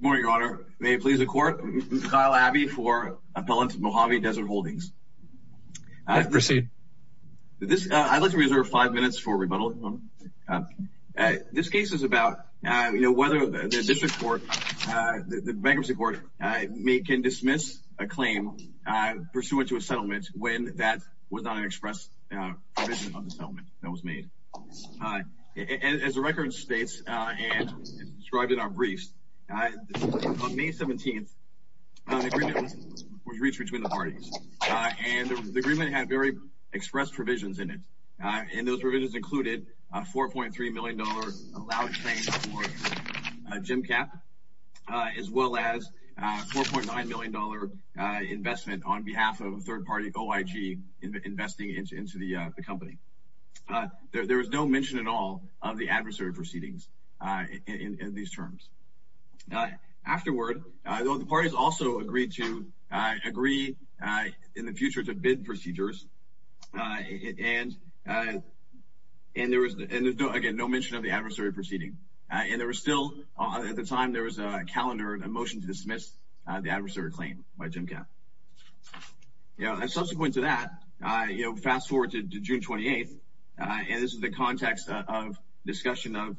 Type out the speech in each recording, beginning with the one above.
Good morning, Your Honor. May it please the Court, I'm Kyle Abbey for Appellant Mojave Desert Holdings. Proceed. I'd like to reserve five minutes for rebuttal. This case is about whether the District Court, the Bankruptcy Court, can dismiss a claim pursuant to a settlement when that was not an express provision of the settlement that was made. As the record states, and as described in our briefs, on May 17th, the agreement was reached between the parties. And the agreement had very expressed provisions in it. And those provisions included a $4.3 million allowed claim for Gemcap, as well as a $4.9 million investment on behalf of a third-party OIG investing into the company. There was no mention at all of the adversary proceedings in these terms. Afterward, the parties also agreed to agree in the future to bid procedures. And there was, again, no mention of the adversary proceeding. And there was still, at the time, there was a calendar, a motion to dismiss the adversary claim by Gemcap. Subsequent to that, fast forward to June 28th, and this is the context of discussion of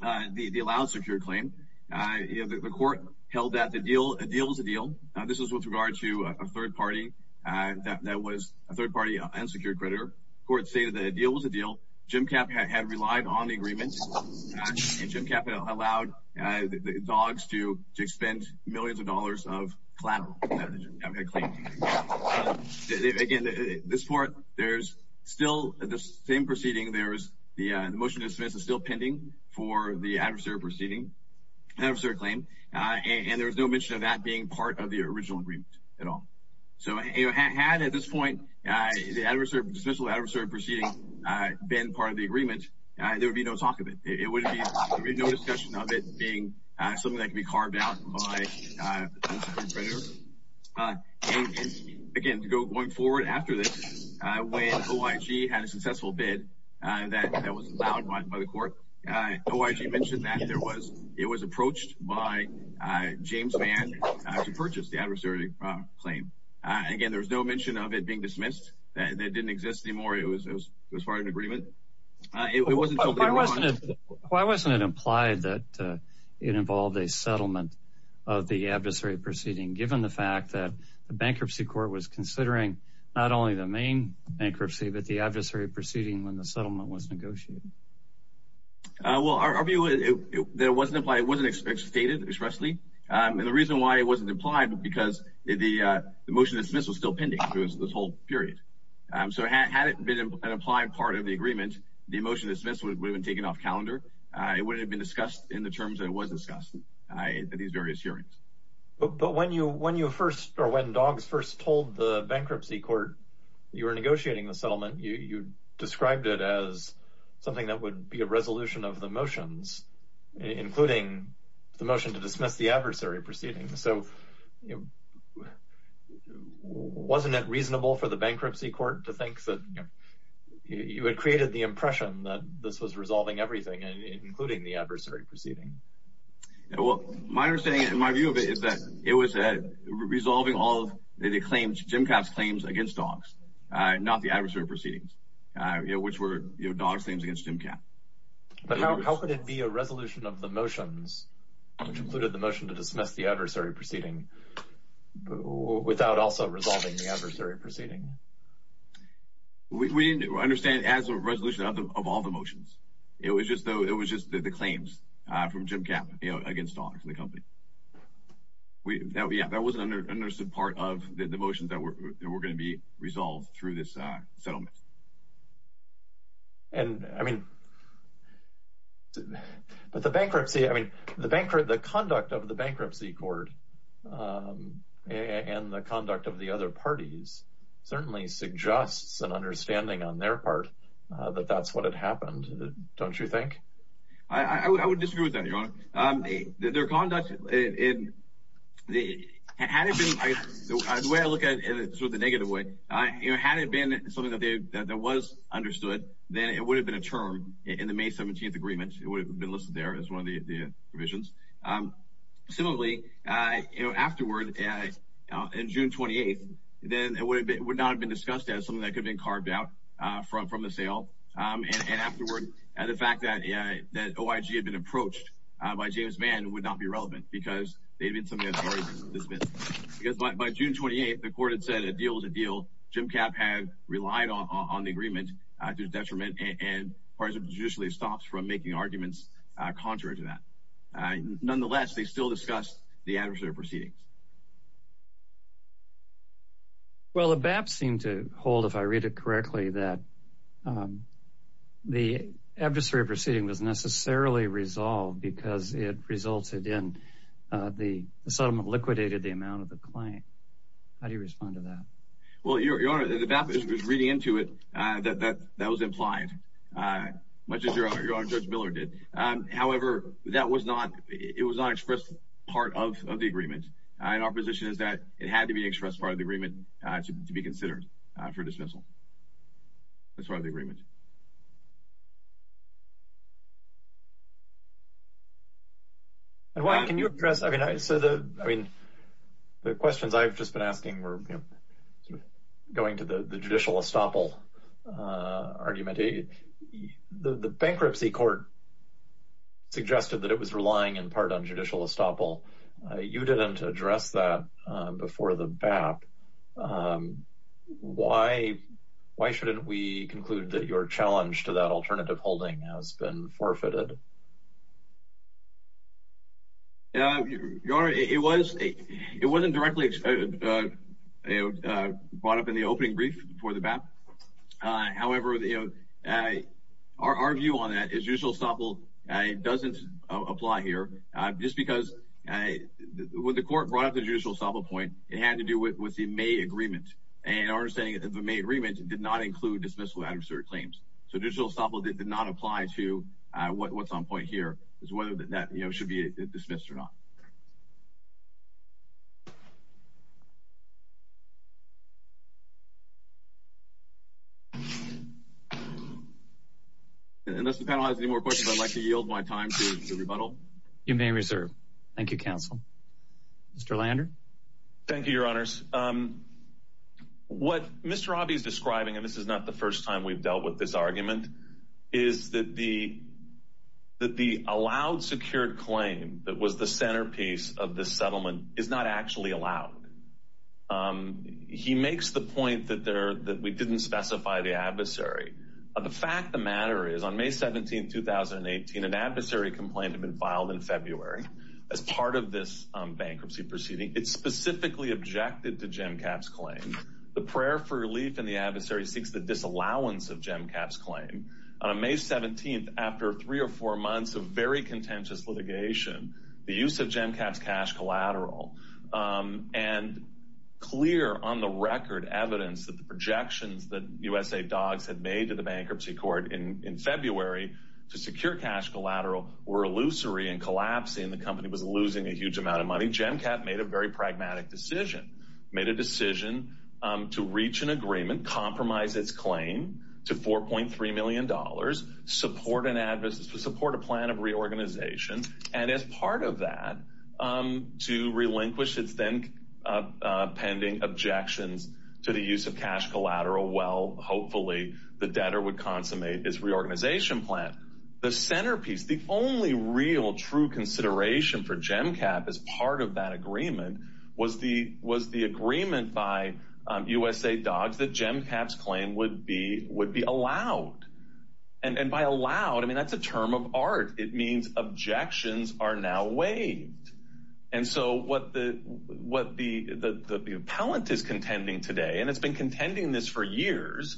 the allowed secured claim. The court held that a deal was a deal. This was with regard to a third party that was a third-party unsecured creditor. The court stated that a deal was a deal. Gemcap had relied on the agreement. And Gemcap had allowed the dogs to expend millions of dollars of collateral. Again, this court, there's still the same proceeding. The motion to dismiss is still pending for the adversary proceeding, the adversary claim. And there was no mention of that being part of the original agreement at all. So had, at this point, the dismissal of the adversary proceeding been part of the agreement, there would be no talk of it. There would be no discussion of it being something that could be carved out by an unsecured creditor. Again, going forward after this, when OIG had a successful bid that was allowed by the court, OIG mentioned that it was approached by James Mann to purchase the adversary claim. Again, there was no mention of it being dismissed. That didn't exist anymore. It was part of an agreement. Why wasn't it implied that it involved a settlement of the adversary proceeding, given the fact that the bankruptcy court was considering not only the main bankruptcy but the adversary proceeding when the settlement was negotiated? Well, our view is that it wasn't implied. It wasn't stated expressly. And the reason why it wasn't implied was because the motion to dismiss was still pending through this whole period. So had it been an implied part of the agreement, the motion to dismiss would have been taken off calendar. It wouldn't have been discussed in the terms that it was discussed at these various hearings. But when you first, or when DOGS first told the bankruptcy court you were negotiating the settlement, you described it as something that would be a resolution of the motions, including the motion to dismiss the adversary proceeding. So wasn't it reasonable for the bankruptcy court to think that you had created the impression that this was resolving everything, including the adversary proceeding? Well, my understanding and my view of it is that it was resolving all of the claims, Jim Katz's claims against DOGS, not the adversary proceedings, which were DOGS' claims against Jim Katz. But how could it be a resolution of the motions, which included the motion to dismiss the adversary proceeding, without also resolving the adversary proceeding? We didn't understand it as a resolution of all the motions. It was just the claims from Jim Katz against DOGS, the company. That wasn't an understood part of the motions that were going to be resolved through this settlement. But the conduct of the bankruptcy court and the conduct of the other parties certainly suggests an understanding on their part that that's what had happened, don't you think? I would disagree with that, Your Honor. Their conduct, the way I look at it in sort of the negative way, had it been something that was understood, then it would have been a term in the May 17th agreement. It would have been listed there as one of the revisions. Similarly, afterward, in June 28th, then it would not have been discussed as something that could have been carved out from the sale. And afterward, the fact that OIG had been approached by James Mann would not be relevant, because they had been something that had already been dismissed. Because by June 28th, the court had said a deal was a deal. Jim Katz had relied on the agreement due to detriment, and the parties would have been judicially stopped from making arguments contrary to that. Nonetheless, they still discussed the adversary proceedings. Well, the BAP seemed to hold, if I read it correctly, that the adversary proceeding was necessarily resolved because it resulted in the settlement liquidated the amount of the claim. How do you respond to that? Well, Your Honor, the BAP is reading into it that that was implied, much as Your Honor, Judge Miller did. However, it was not expressed as part of the agreement. And our position is that it had to be expressed as part of the agreement to be considered for dismissal. That's part of the agreement. Edwine, can you address—I mean, the questions I've just been asking were going to the judicial estoppel argument. The bankruptcy court suggested that it was relying in part on judicial estoppel. You didn't address that before the BAP. Why shouldn't we conclude that your challenge to that alternative holding has been forfeited? Your Honor, it wasn't directly brought up in the opening brief for the BAP. However, our view on that is judicial estoppel doesn't apply here. Just because when the court brought up the judicial estoppel point, it had to do with the May agreement. And our understanding is that the May agreement did not include dismissal of adversary claims. So judicial estoppel did not apply to what's on point here as to whether that should be dismissed or not. Unless the panel has any more questions, I'd like to yield my time to the rebuttal. Thank you, Counsel. Mr. Lander? Thank you, Your Honors. What Mr. Abhi is describing—and this is not the first time we've dealt with this argument— is that the allowed secured claim that was the centerpiece of this settlement is not actually allowed. He makes the point that we didn't specify the adversary. The fact of the matter is, on May 17, 2018, an adversary complaint had been filed in February as part of this bankruptcy proceeding. It specifically objected to Jem Capp's claim. The prayer for relief in the adversary seeks the disallowance of Jem Capp's claim. On May 17, after three or four months of very contentious litigation, the use of Jem Capp's cash collateral, and clear on the record evidence that the projections that USAID dogs had made to the bankruptcy court in February to secure cash collateral, were illusory and collapsing. The company was losing a huge amount of money. Jem Capp made a very pragmatic decision. He made a decision to reach an agreement, compromise its claim to $4.3 million, support a plan of reorganization, and as part of that, to relinquish its then pending objections to the use of cash collateral, while hopefully the debtor would consummate his reorganization plan. The centerpiece, the only real true consideration for Jem Capp as part of that agreement, was the agreement by USAID dogs that Jem Capp's claim would be allowed. And by allowed, I mean that's a term of art. It means objections are now waived. And so what the appellant is contending today, and it's been contending this for years,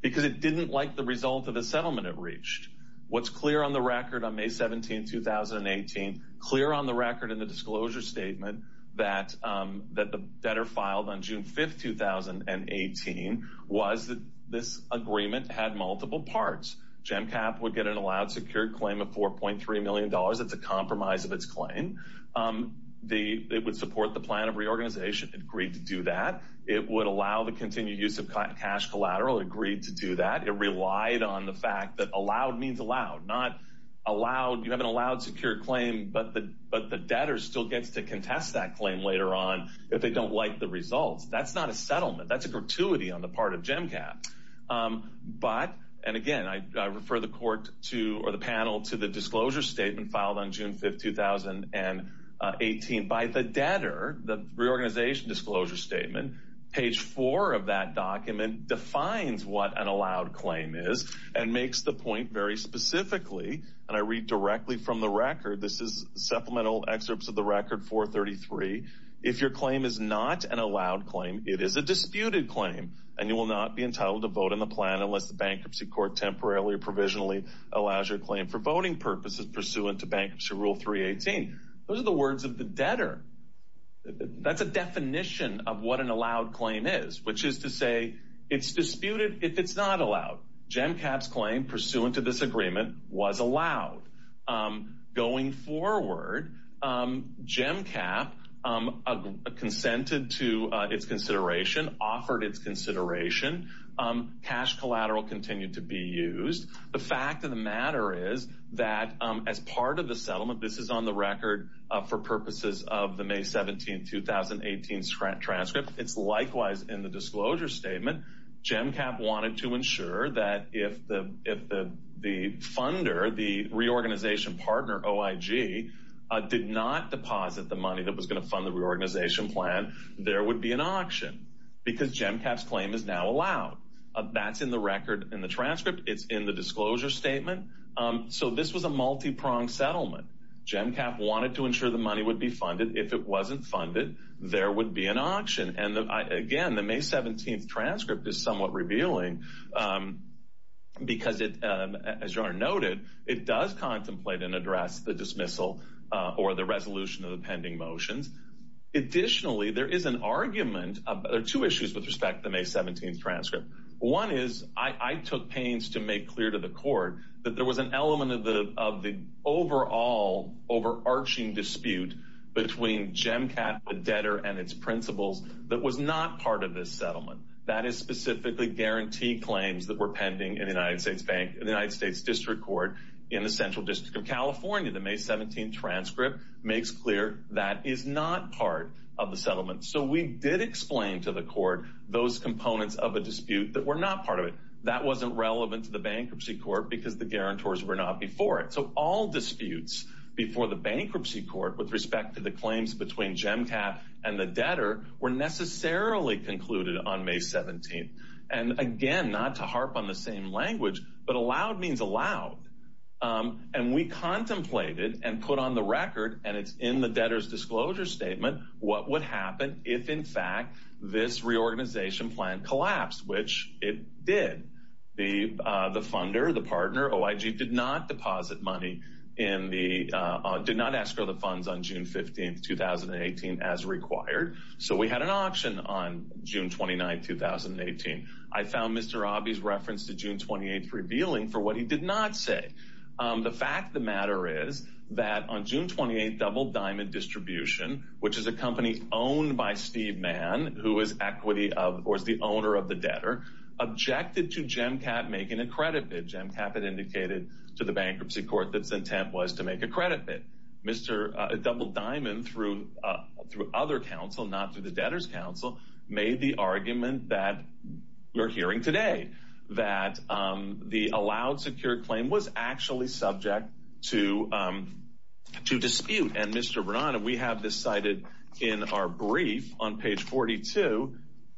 because it didn't like the result of the settlement it reached. What's clear on the record on May 17, 2018, clear on the record in the disclosure statement, that the debtor filed on June 5, 2018, was that this agreement had multiple parts. Jem Capp would get an allowed, secured claim of $4.3 million. That's a compromise of its claim. It would support the plan of reorganization. It agreed to do that. It would allow the continued use of cash collateral. It agreed to do that. It relied on the fact that allowed means allowed. You have an allowed, secured claim, but the debtor still gets to contest that claim later on if they don't like the results. That's not a settlement. That's a gratuity on the part of Jem Capp. But, and again, I refer the panel to the disclosure statement filed on June 5, 2018. By the debtor, the reorganization disclosure statement, page four of that document defines what an allowed claim is and makes the point very specifically, and I read directly from the record, this is supplemental excerpts of the record, 433. If your claim is not an allowed claim, it is a disputed claim, and you will not be entitled to vote on the plan unless the bankruptcy court temporarily or provisionally allows your claim for voting purposes pursuant to Bankruptcy Rule 318. Those are the words of the debtor. That's a definition of what an allowed claim is, which is to say it's disputed if it's not allowed. Jem Capp's claim pursuant to this agreement was allowed. Going forward, Jem Capp consented to its consideration, offered its consideration. Cash collateral continued to be used. The fact of the matter is that as part of the settlement, this is on the record for purposes of the May 17, 2018 transcript. It's likewise in the disclosure statement. Jem Capp wanted to ensure that if the funder, the reorganization partner, OIG, did not deposit the money that was going to fund the reorganization plan, there would be an auction because Jem Capp's claim is now allowed. That's in the record in the transcript. It's in the disclosure statement. So this was a multi-pronged settlement. Jem Capp wanted to ensure the money would be funded. If it wasn't funded, there would be an auction. Again, the May 17 transcript is somewhat revealing because, as John noted, it does contemplate and address the dismissal or the resolution of the pending motions. Additionally, there is an argument. There are two issues with respect to the May 17 transcript. One is I took pains to make clear to the court that there was an element of the overall overarching dispute between Jem Capp, the debtor, and its principals that was not part of this settlement. That is specifically guarantee claims that were pending in the United States District Court in the Central District of California. The May 17 transcript makes clear that is not part of the settlement. So we did explain to the court those components of a dispute that were not part of it. That wasn't relevant to the bankruptcy court because the guarantors were not before it. So all disputes before the bankruptcy court with respect to the claims between Jem Capp and the debtor were necessarily concluded on May 17. And again, not to harp on the same language, but allowed means allowed. And we contemplated and put on the record, and it's in the debtor's disclosure statement, what would happen if, in fact, this reorganization plan collapsed, which it did. The funder, the partner, OIG, did not ask for the funds on June 15, 2018, as required. So we had an auction on June 29, 2018. I found Mr. Abhi's reference to June 28 revealing for what he did not say. The fact of the matter is that on June 28, Double Diamond Distribution, which is a company owned by Steve Mann, who is the owner of the debtor, objected to Jem Capp making a credit bid. Jem Capp had indicated to the bankruptcy court that its intent was to make a credit bid. Mr. Double Diamond, through other counsel, not through the debtor's counsel, made the argument that we're hearing today. That the allowed secure claim was actually subject to dispute. And Mr. Bernande, we have this cited in our brief on page 42.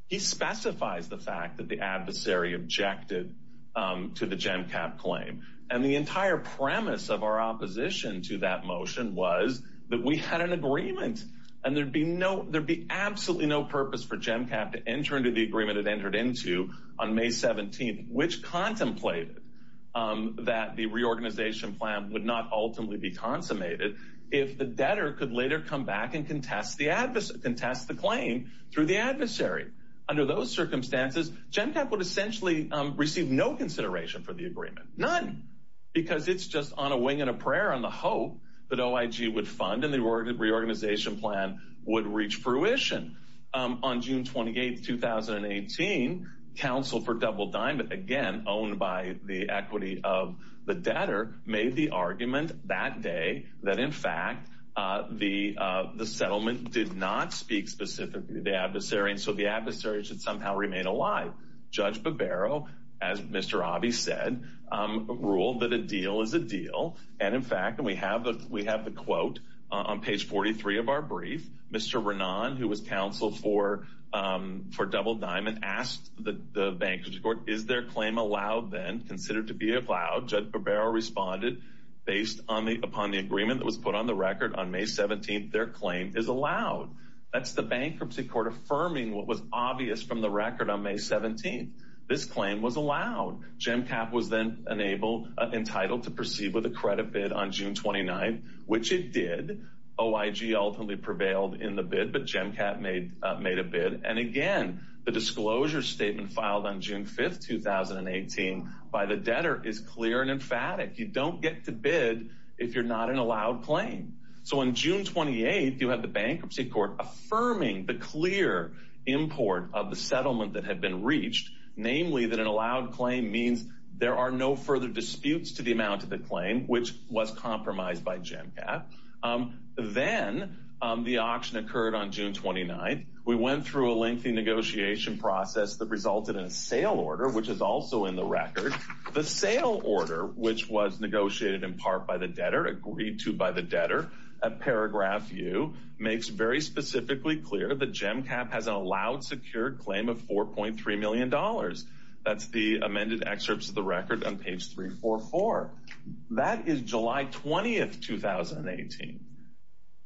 He specifies the fact that the adversary objected to the Jem Capp claim. And the entire premise of our opposition to that motion was that we had an agreement. And there'd be absolutely no purpose for Jem Capp to enter into the agreement it entered into on May 17, which contemplated that the reorganization plan would not ultimately be consummated if the debtor could later come back and contest the claim through the adversary. Under those circumstances, Jem Capp would essentially receive no consideration for the agreement. None. Because it's just on a wing and a prayer on the hope that OIG would fund and the reorganization plan would reach fruition. On June 28, 2018, counsel for Double Diamond, again, owned by the equity of the debtor, made the argument that day that, in fact, the settlement did not speak specifically to the adversary. And so the adversary should somehow remain alive. Judge Barbero, as Mr. Abhi said, ruled that a deal is a deal. And, in fact, we have the quote on page 43 of our brief. Mr. Bernande, who was counsel for Double Diamond, asked the bankers court, is their claim allowed then, considered to be allowed? Judge Barbero responded, based upon the agreement that was put on the record on May 17, their claim is allowed. That's the bankruptcy court affirming what was obvious from the record on May 17. This claim was allowed. Jem Capp was then entitled to proceed with a credit bid on June 29, which it did. OIG ultimately prevailed in the bid, but Jem Capp made a bid. And, again, the disclosure statement filed on June 5, 2018, by the debtor, is clear and emphatic. You don't get to bid if you're not an allowed claim. So, on June 28, you have the bankruptcy court affirming the clear import of the settlement that had been reached. Namely, that an allowed claim means there are no further disputes to the amount of the claim, which was compromised by Jem Capp. Then, the auction occurred on June 29. We went through a lengthy negotiation process that resulted in a sale order, which is also in the record. The sale order, which was negotiated in part by the debtor, agreed to by the debtor, at paragraph U, makes very specifically clear that Jem Capp has an allowed secured claim of $4.3 million. That's the amended excerpts of the record on page 344. That is July 20, 2018.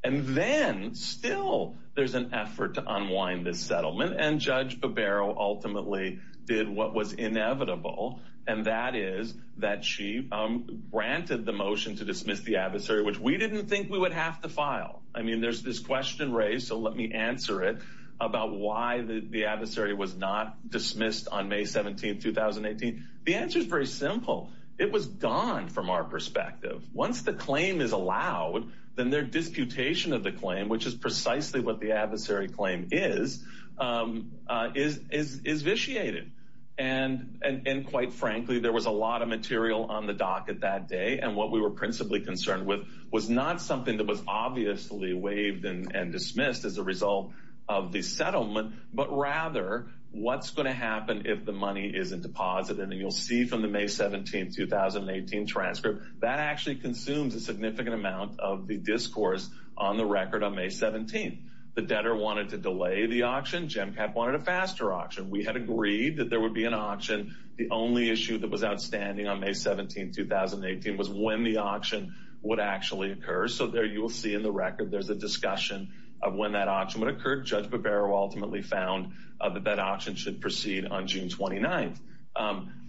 And then, still, there's an effort to unwind this settlement, and Judge Barbero ultimately did what was inevitable, and that is that she granted the motion to dismiss the adversary, which we didn't think we would have to file. I mean, there's this question raised, so let me answer it, about why the adversary was not dismissed on May 17, 2018. The answer is very simple. It was gone from our perspective. Once the claim is allowed, then their disputation of the claim, which is precisely what the adversary claim is, is vitiated. And, quite frankly, there was a lot of material on the docket that day, and what we were principally concerned with was not something that was obviously waived and dismissed as a result of the settlement, but rather what's going to happen if the money isn't deposited. And you'll see from the May 17, 2018 transcript, that actually consumes a significant amount of the discourse on the record on May 17. The debtor wanted to delay the auction. Jem Capp wanted a faster auction. We had agreed that there would be an auction. The only issue that was outstanding on May 17, 2018, was when the auction would actually occur. So there you will see in the record, there's a discussion of when that auction would occur. Judge Barbero ultimately found that that auction should proceed on June 29.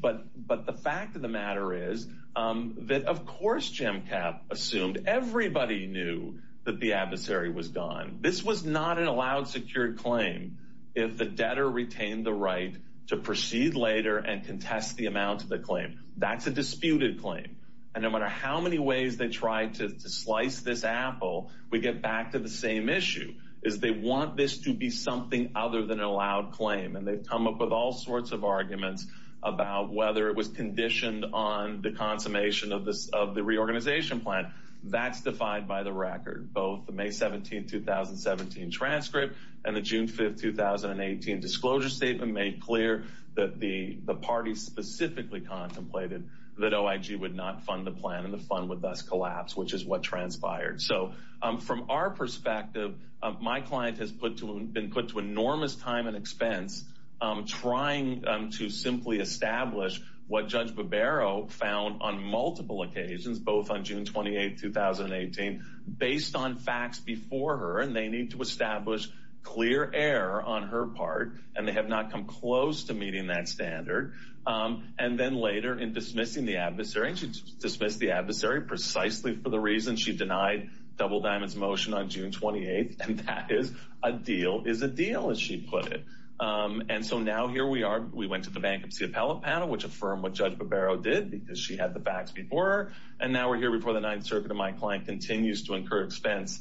But the fact of the matter is that, of course, Jem Capp assumed everybody knew that the adversary was gone. This was not an allowed, secured claim if the debtor retained the right to proceed later and contest the amount of the claim. That's a disputed claim. And no matter how many ways they tried to slice this apple, we get back to the same issue. They want this to be something other than an allowed claim. And they've come up with all sorts of arguments about whether it was conditioned on the consummation of the reorganization plan. That's defied by the record. Both the May 17, 2017 transcript and the June 5, 2018 disclosure statement made clear that the party specifically contemplated that OIG would not fund the plan and the fund would thus collapse, which is what transpired. So from our perspective, my client has been put to enormous time and expense trying to simply establish what Judge Barbero found on multiple occasions, both on June 28, 2018, based on facts before her. And they need to establish clear error on her part, and they have not come close to meeting that standard. And then later in dismissing the adversary, and she dismissed the adversary precisely for the reason she denied Double Diamond's motion on June 28, and that is a deal is a deal, as she put it. And so now here we are. We went to the Bankruptcy Appellate Panel, which affirmed what Judge Barbero did because she had the facts before her. And now we're here before the Ninth Circuit, and my client continues to incur expense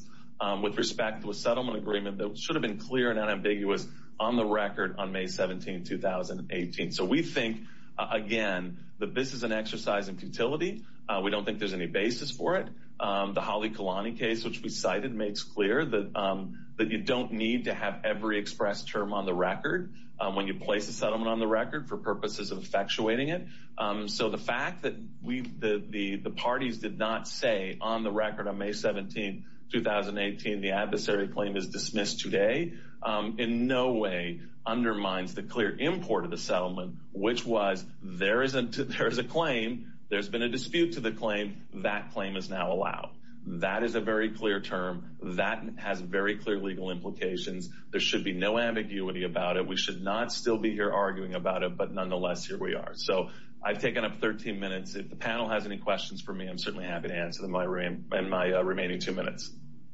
with respect to a settlement agreement that should have been clear and unambiguous on the record on May 17, 2018. And I think, again, that this is an exercise in futility. We don't think there's any basis for it. The Holly Kalani case, which we cited, makes clear that you don't need to have every express term on the record when you place a settlement on the record for purposes of effectuating it. So the fact that the parties did not say on the record on May 17, 2018, the adversary claim is dismissed today, in no way undermines the clear import of the settlement, which was there is a claim, there's been a dispute to the claim, that claim is now allowed. That is a very clear term. That has very clear legal implications. There should be no ambiguity about it. We should not still be here arguing about it, but nonetheless, here we are. So I've taken up 13 minutes. If the panel has any questions for me, I'm certainly happy to answer them in my remaining two minutes.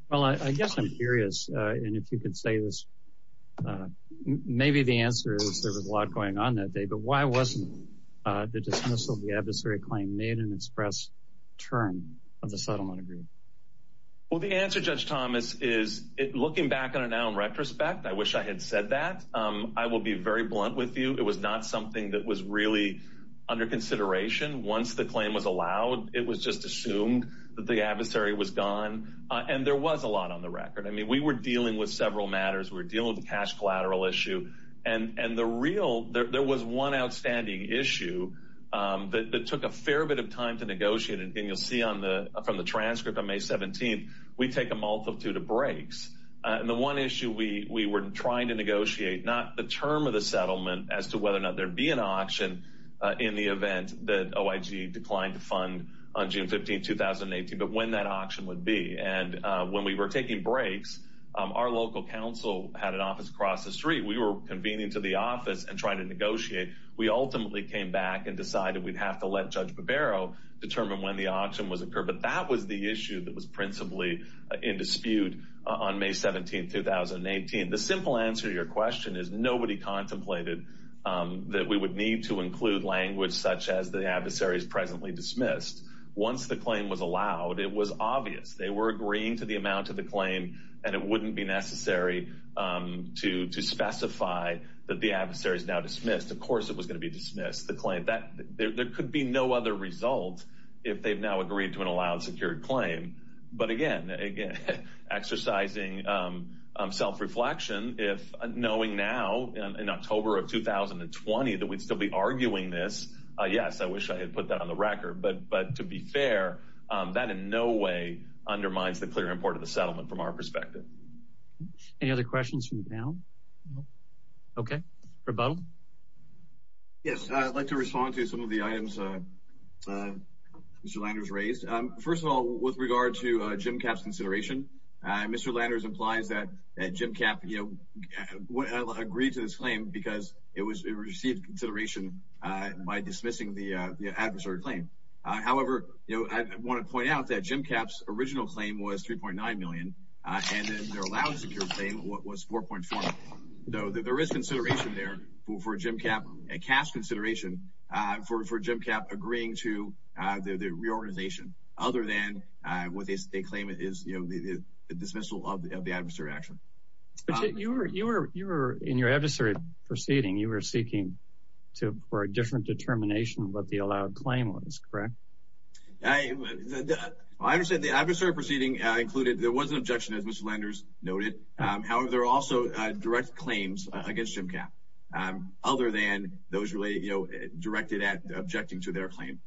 Well, I guess I'm curious, and if you could say this, maybe the answer is there was a lot going on that day, but why wasn't the dismissal of the adversary claim made an express term of the settlement agreement? Well, the answer, Judge Thomas, is looking back on it now in retrospect, I wish I had said that. I will be very blunt with you. It was not something that was really under consideration. Once the claim was allowed, it was just assumed that the adversary was gone, and there was a lot on the record. I mean, we were dealing with several matters. We were dealing with the cash collateral issue, and there was one outstanding issue that took a fair bit of time to negotiate, and you'll see from the transcript on May 17th, we take a multitude of breaks. And the one issue we were trying to negotiate, not the term of the settlement as to whether or not there'd be an auction in the event that OIG declined to fund on June 15, 2018, but when that auction would be. And when we were taking breaks, our local council had an office across the street. We were convening to the office and trying to negotiate. We ultimately came back and decided we'd have to let Judge Barbero determine when the auction was occurred, but that was the issue that was principally in dispute on May 17, 2018. The simple answer to your question is nobody contemplated that we would need to include language such as the adversary is presently dismissed. Once the claim was allowed, it was obvious they were agreeing to the amount of the claim, and it wouldn't be necessary to specify that the adversary is now dismissed. Of course it was going to be dismissed, the claim. There could be no other result if they've now agreed to an allowed, secured claim. But again, exercising self-reflection, knowing now in October of 2020 that we'd still be arguing this, yes, I wish I had put that on the record. But to be fair, that in no way undermines the clear import of the settlement from our perspective. Any other questions from the panel? Okay. Rebuttal? Yes, I'd like to respond to some of the items Mr. Landers raised. First of all, with regard to Jim Kapp's consideration, Mr. Landers implies that Jim Kapp agreed to this claim because it received consideration by dismissing the adversary claim. However, I want to point out that Jim Kapp's original claim was $3.9 million, and their allowed, secured claim was $4.4 million. So there is consideration there for Jim Kapp, a cash consideration, for Jim Kapp agreeing to the reorganization, other than what they claim is the dismissal of the adversary action. But you were, in your adversary proceeding, you were seeking for a different determination of what the allowed claim was, correct? I understand the adversary proceeding included, there was an objection, as Mr. Landers noted. However, there are also direct claims against Jim Kapp, other than those related, you know, directed at objecting to their claim.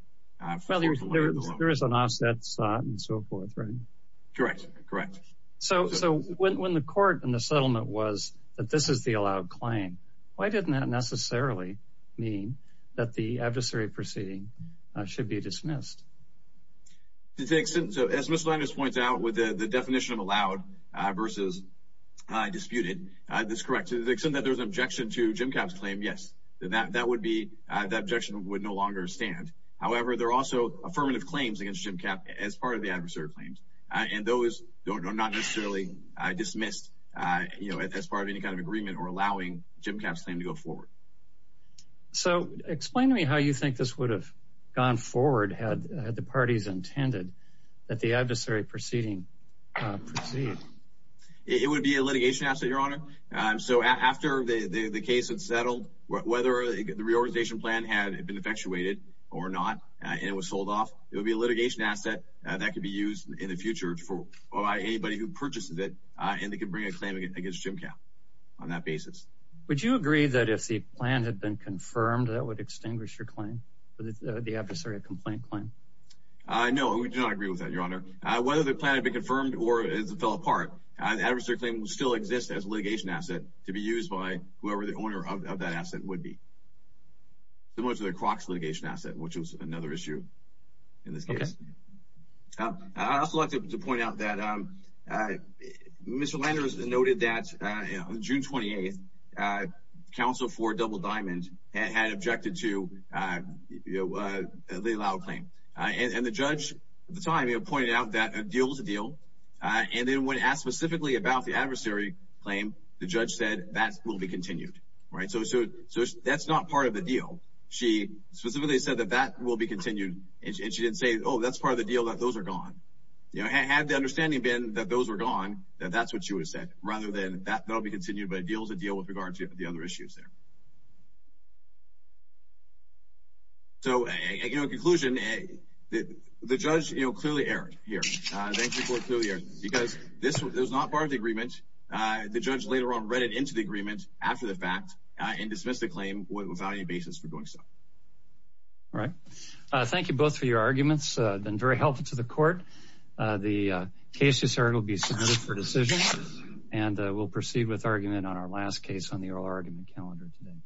Well, there is an offset slot and so forth, right? Correct, correct. So when the court in the settlement was that this is the allowed claim, why didn't that necessarily mean that the adversary proceeding should be dismissed? As Mr. Landers points out, with the definition of allowed versus disputed, this is correct. To the extent that there is an objection to Jim Kapp's claim, yes, that objection would no longer stand. However, there are also affirmative claims against Jim Kapp as part of the adversary claims. And those are not necessarily dismissed, you know, as part of any kind of agreement or allowing Jim Kapp's claim to go forward. So explain to me how you think this would have gone forward had the parties intended that the adversary proceeding proceed. So after the case had settled, whether the reorganization plan had been effectuated or not and it was sold off, it would be a litigation asset that could be used in the future by anybody who purchases it and they could bring a claim against Jim Kapp on that basis. Would you agree that if the plan had been confirmed, that would extinguish your claim, the adversary complaint claim? No, we do not agree with that, Your Honor. Whether the plan had been confirmed or it fell apart, the adversary claim still exists as a litigation asset to be used by whoever the owner of that asset would be. Similar to the Crocs litigation asset, which is another issue in this case. I'd also like to point out that Mr. Landers noted that on June 28th, counsel for Double Diamond had objected to the allowed claim. And the judge at the time pointed out that a deal is a deal. And then when asked specifically about the adversary claim, the judge said that will be continued. So that's not part of the deal. She specifically said that that will be continued, and she didn't say, oh, that's part of the deal, that those are gone. Had the understanding been that those were gone, that that's what she would have said, rather than that will be continued, but a deal is a deal with regard to the other issues there. So, in conclusion, the judge clearly erred here. Thank you for clearly erring, because this was not part of the agreement. The judge later on read it into the agreement after the fact and dismissed the claim without any basis for doing so. All right. Thank you both for your arguments. They've been very helpful to the court. The case is heard. It will be submitted for decision. And we'll proceed with argument on our last case on the oral argument calendar today.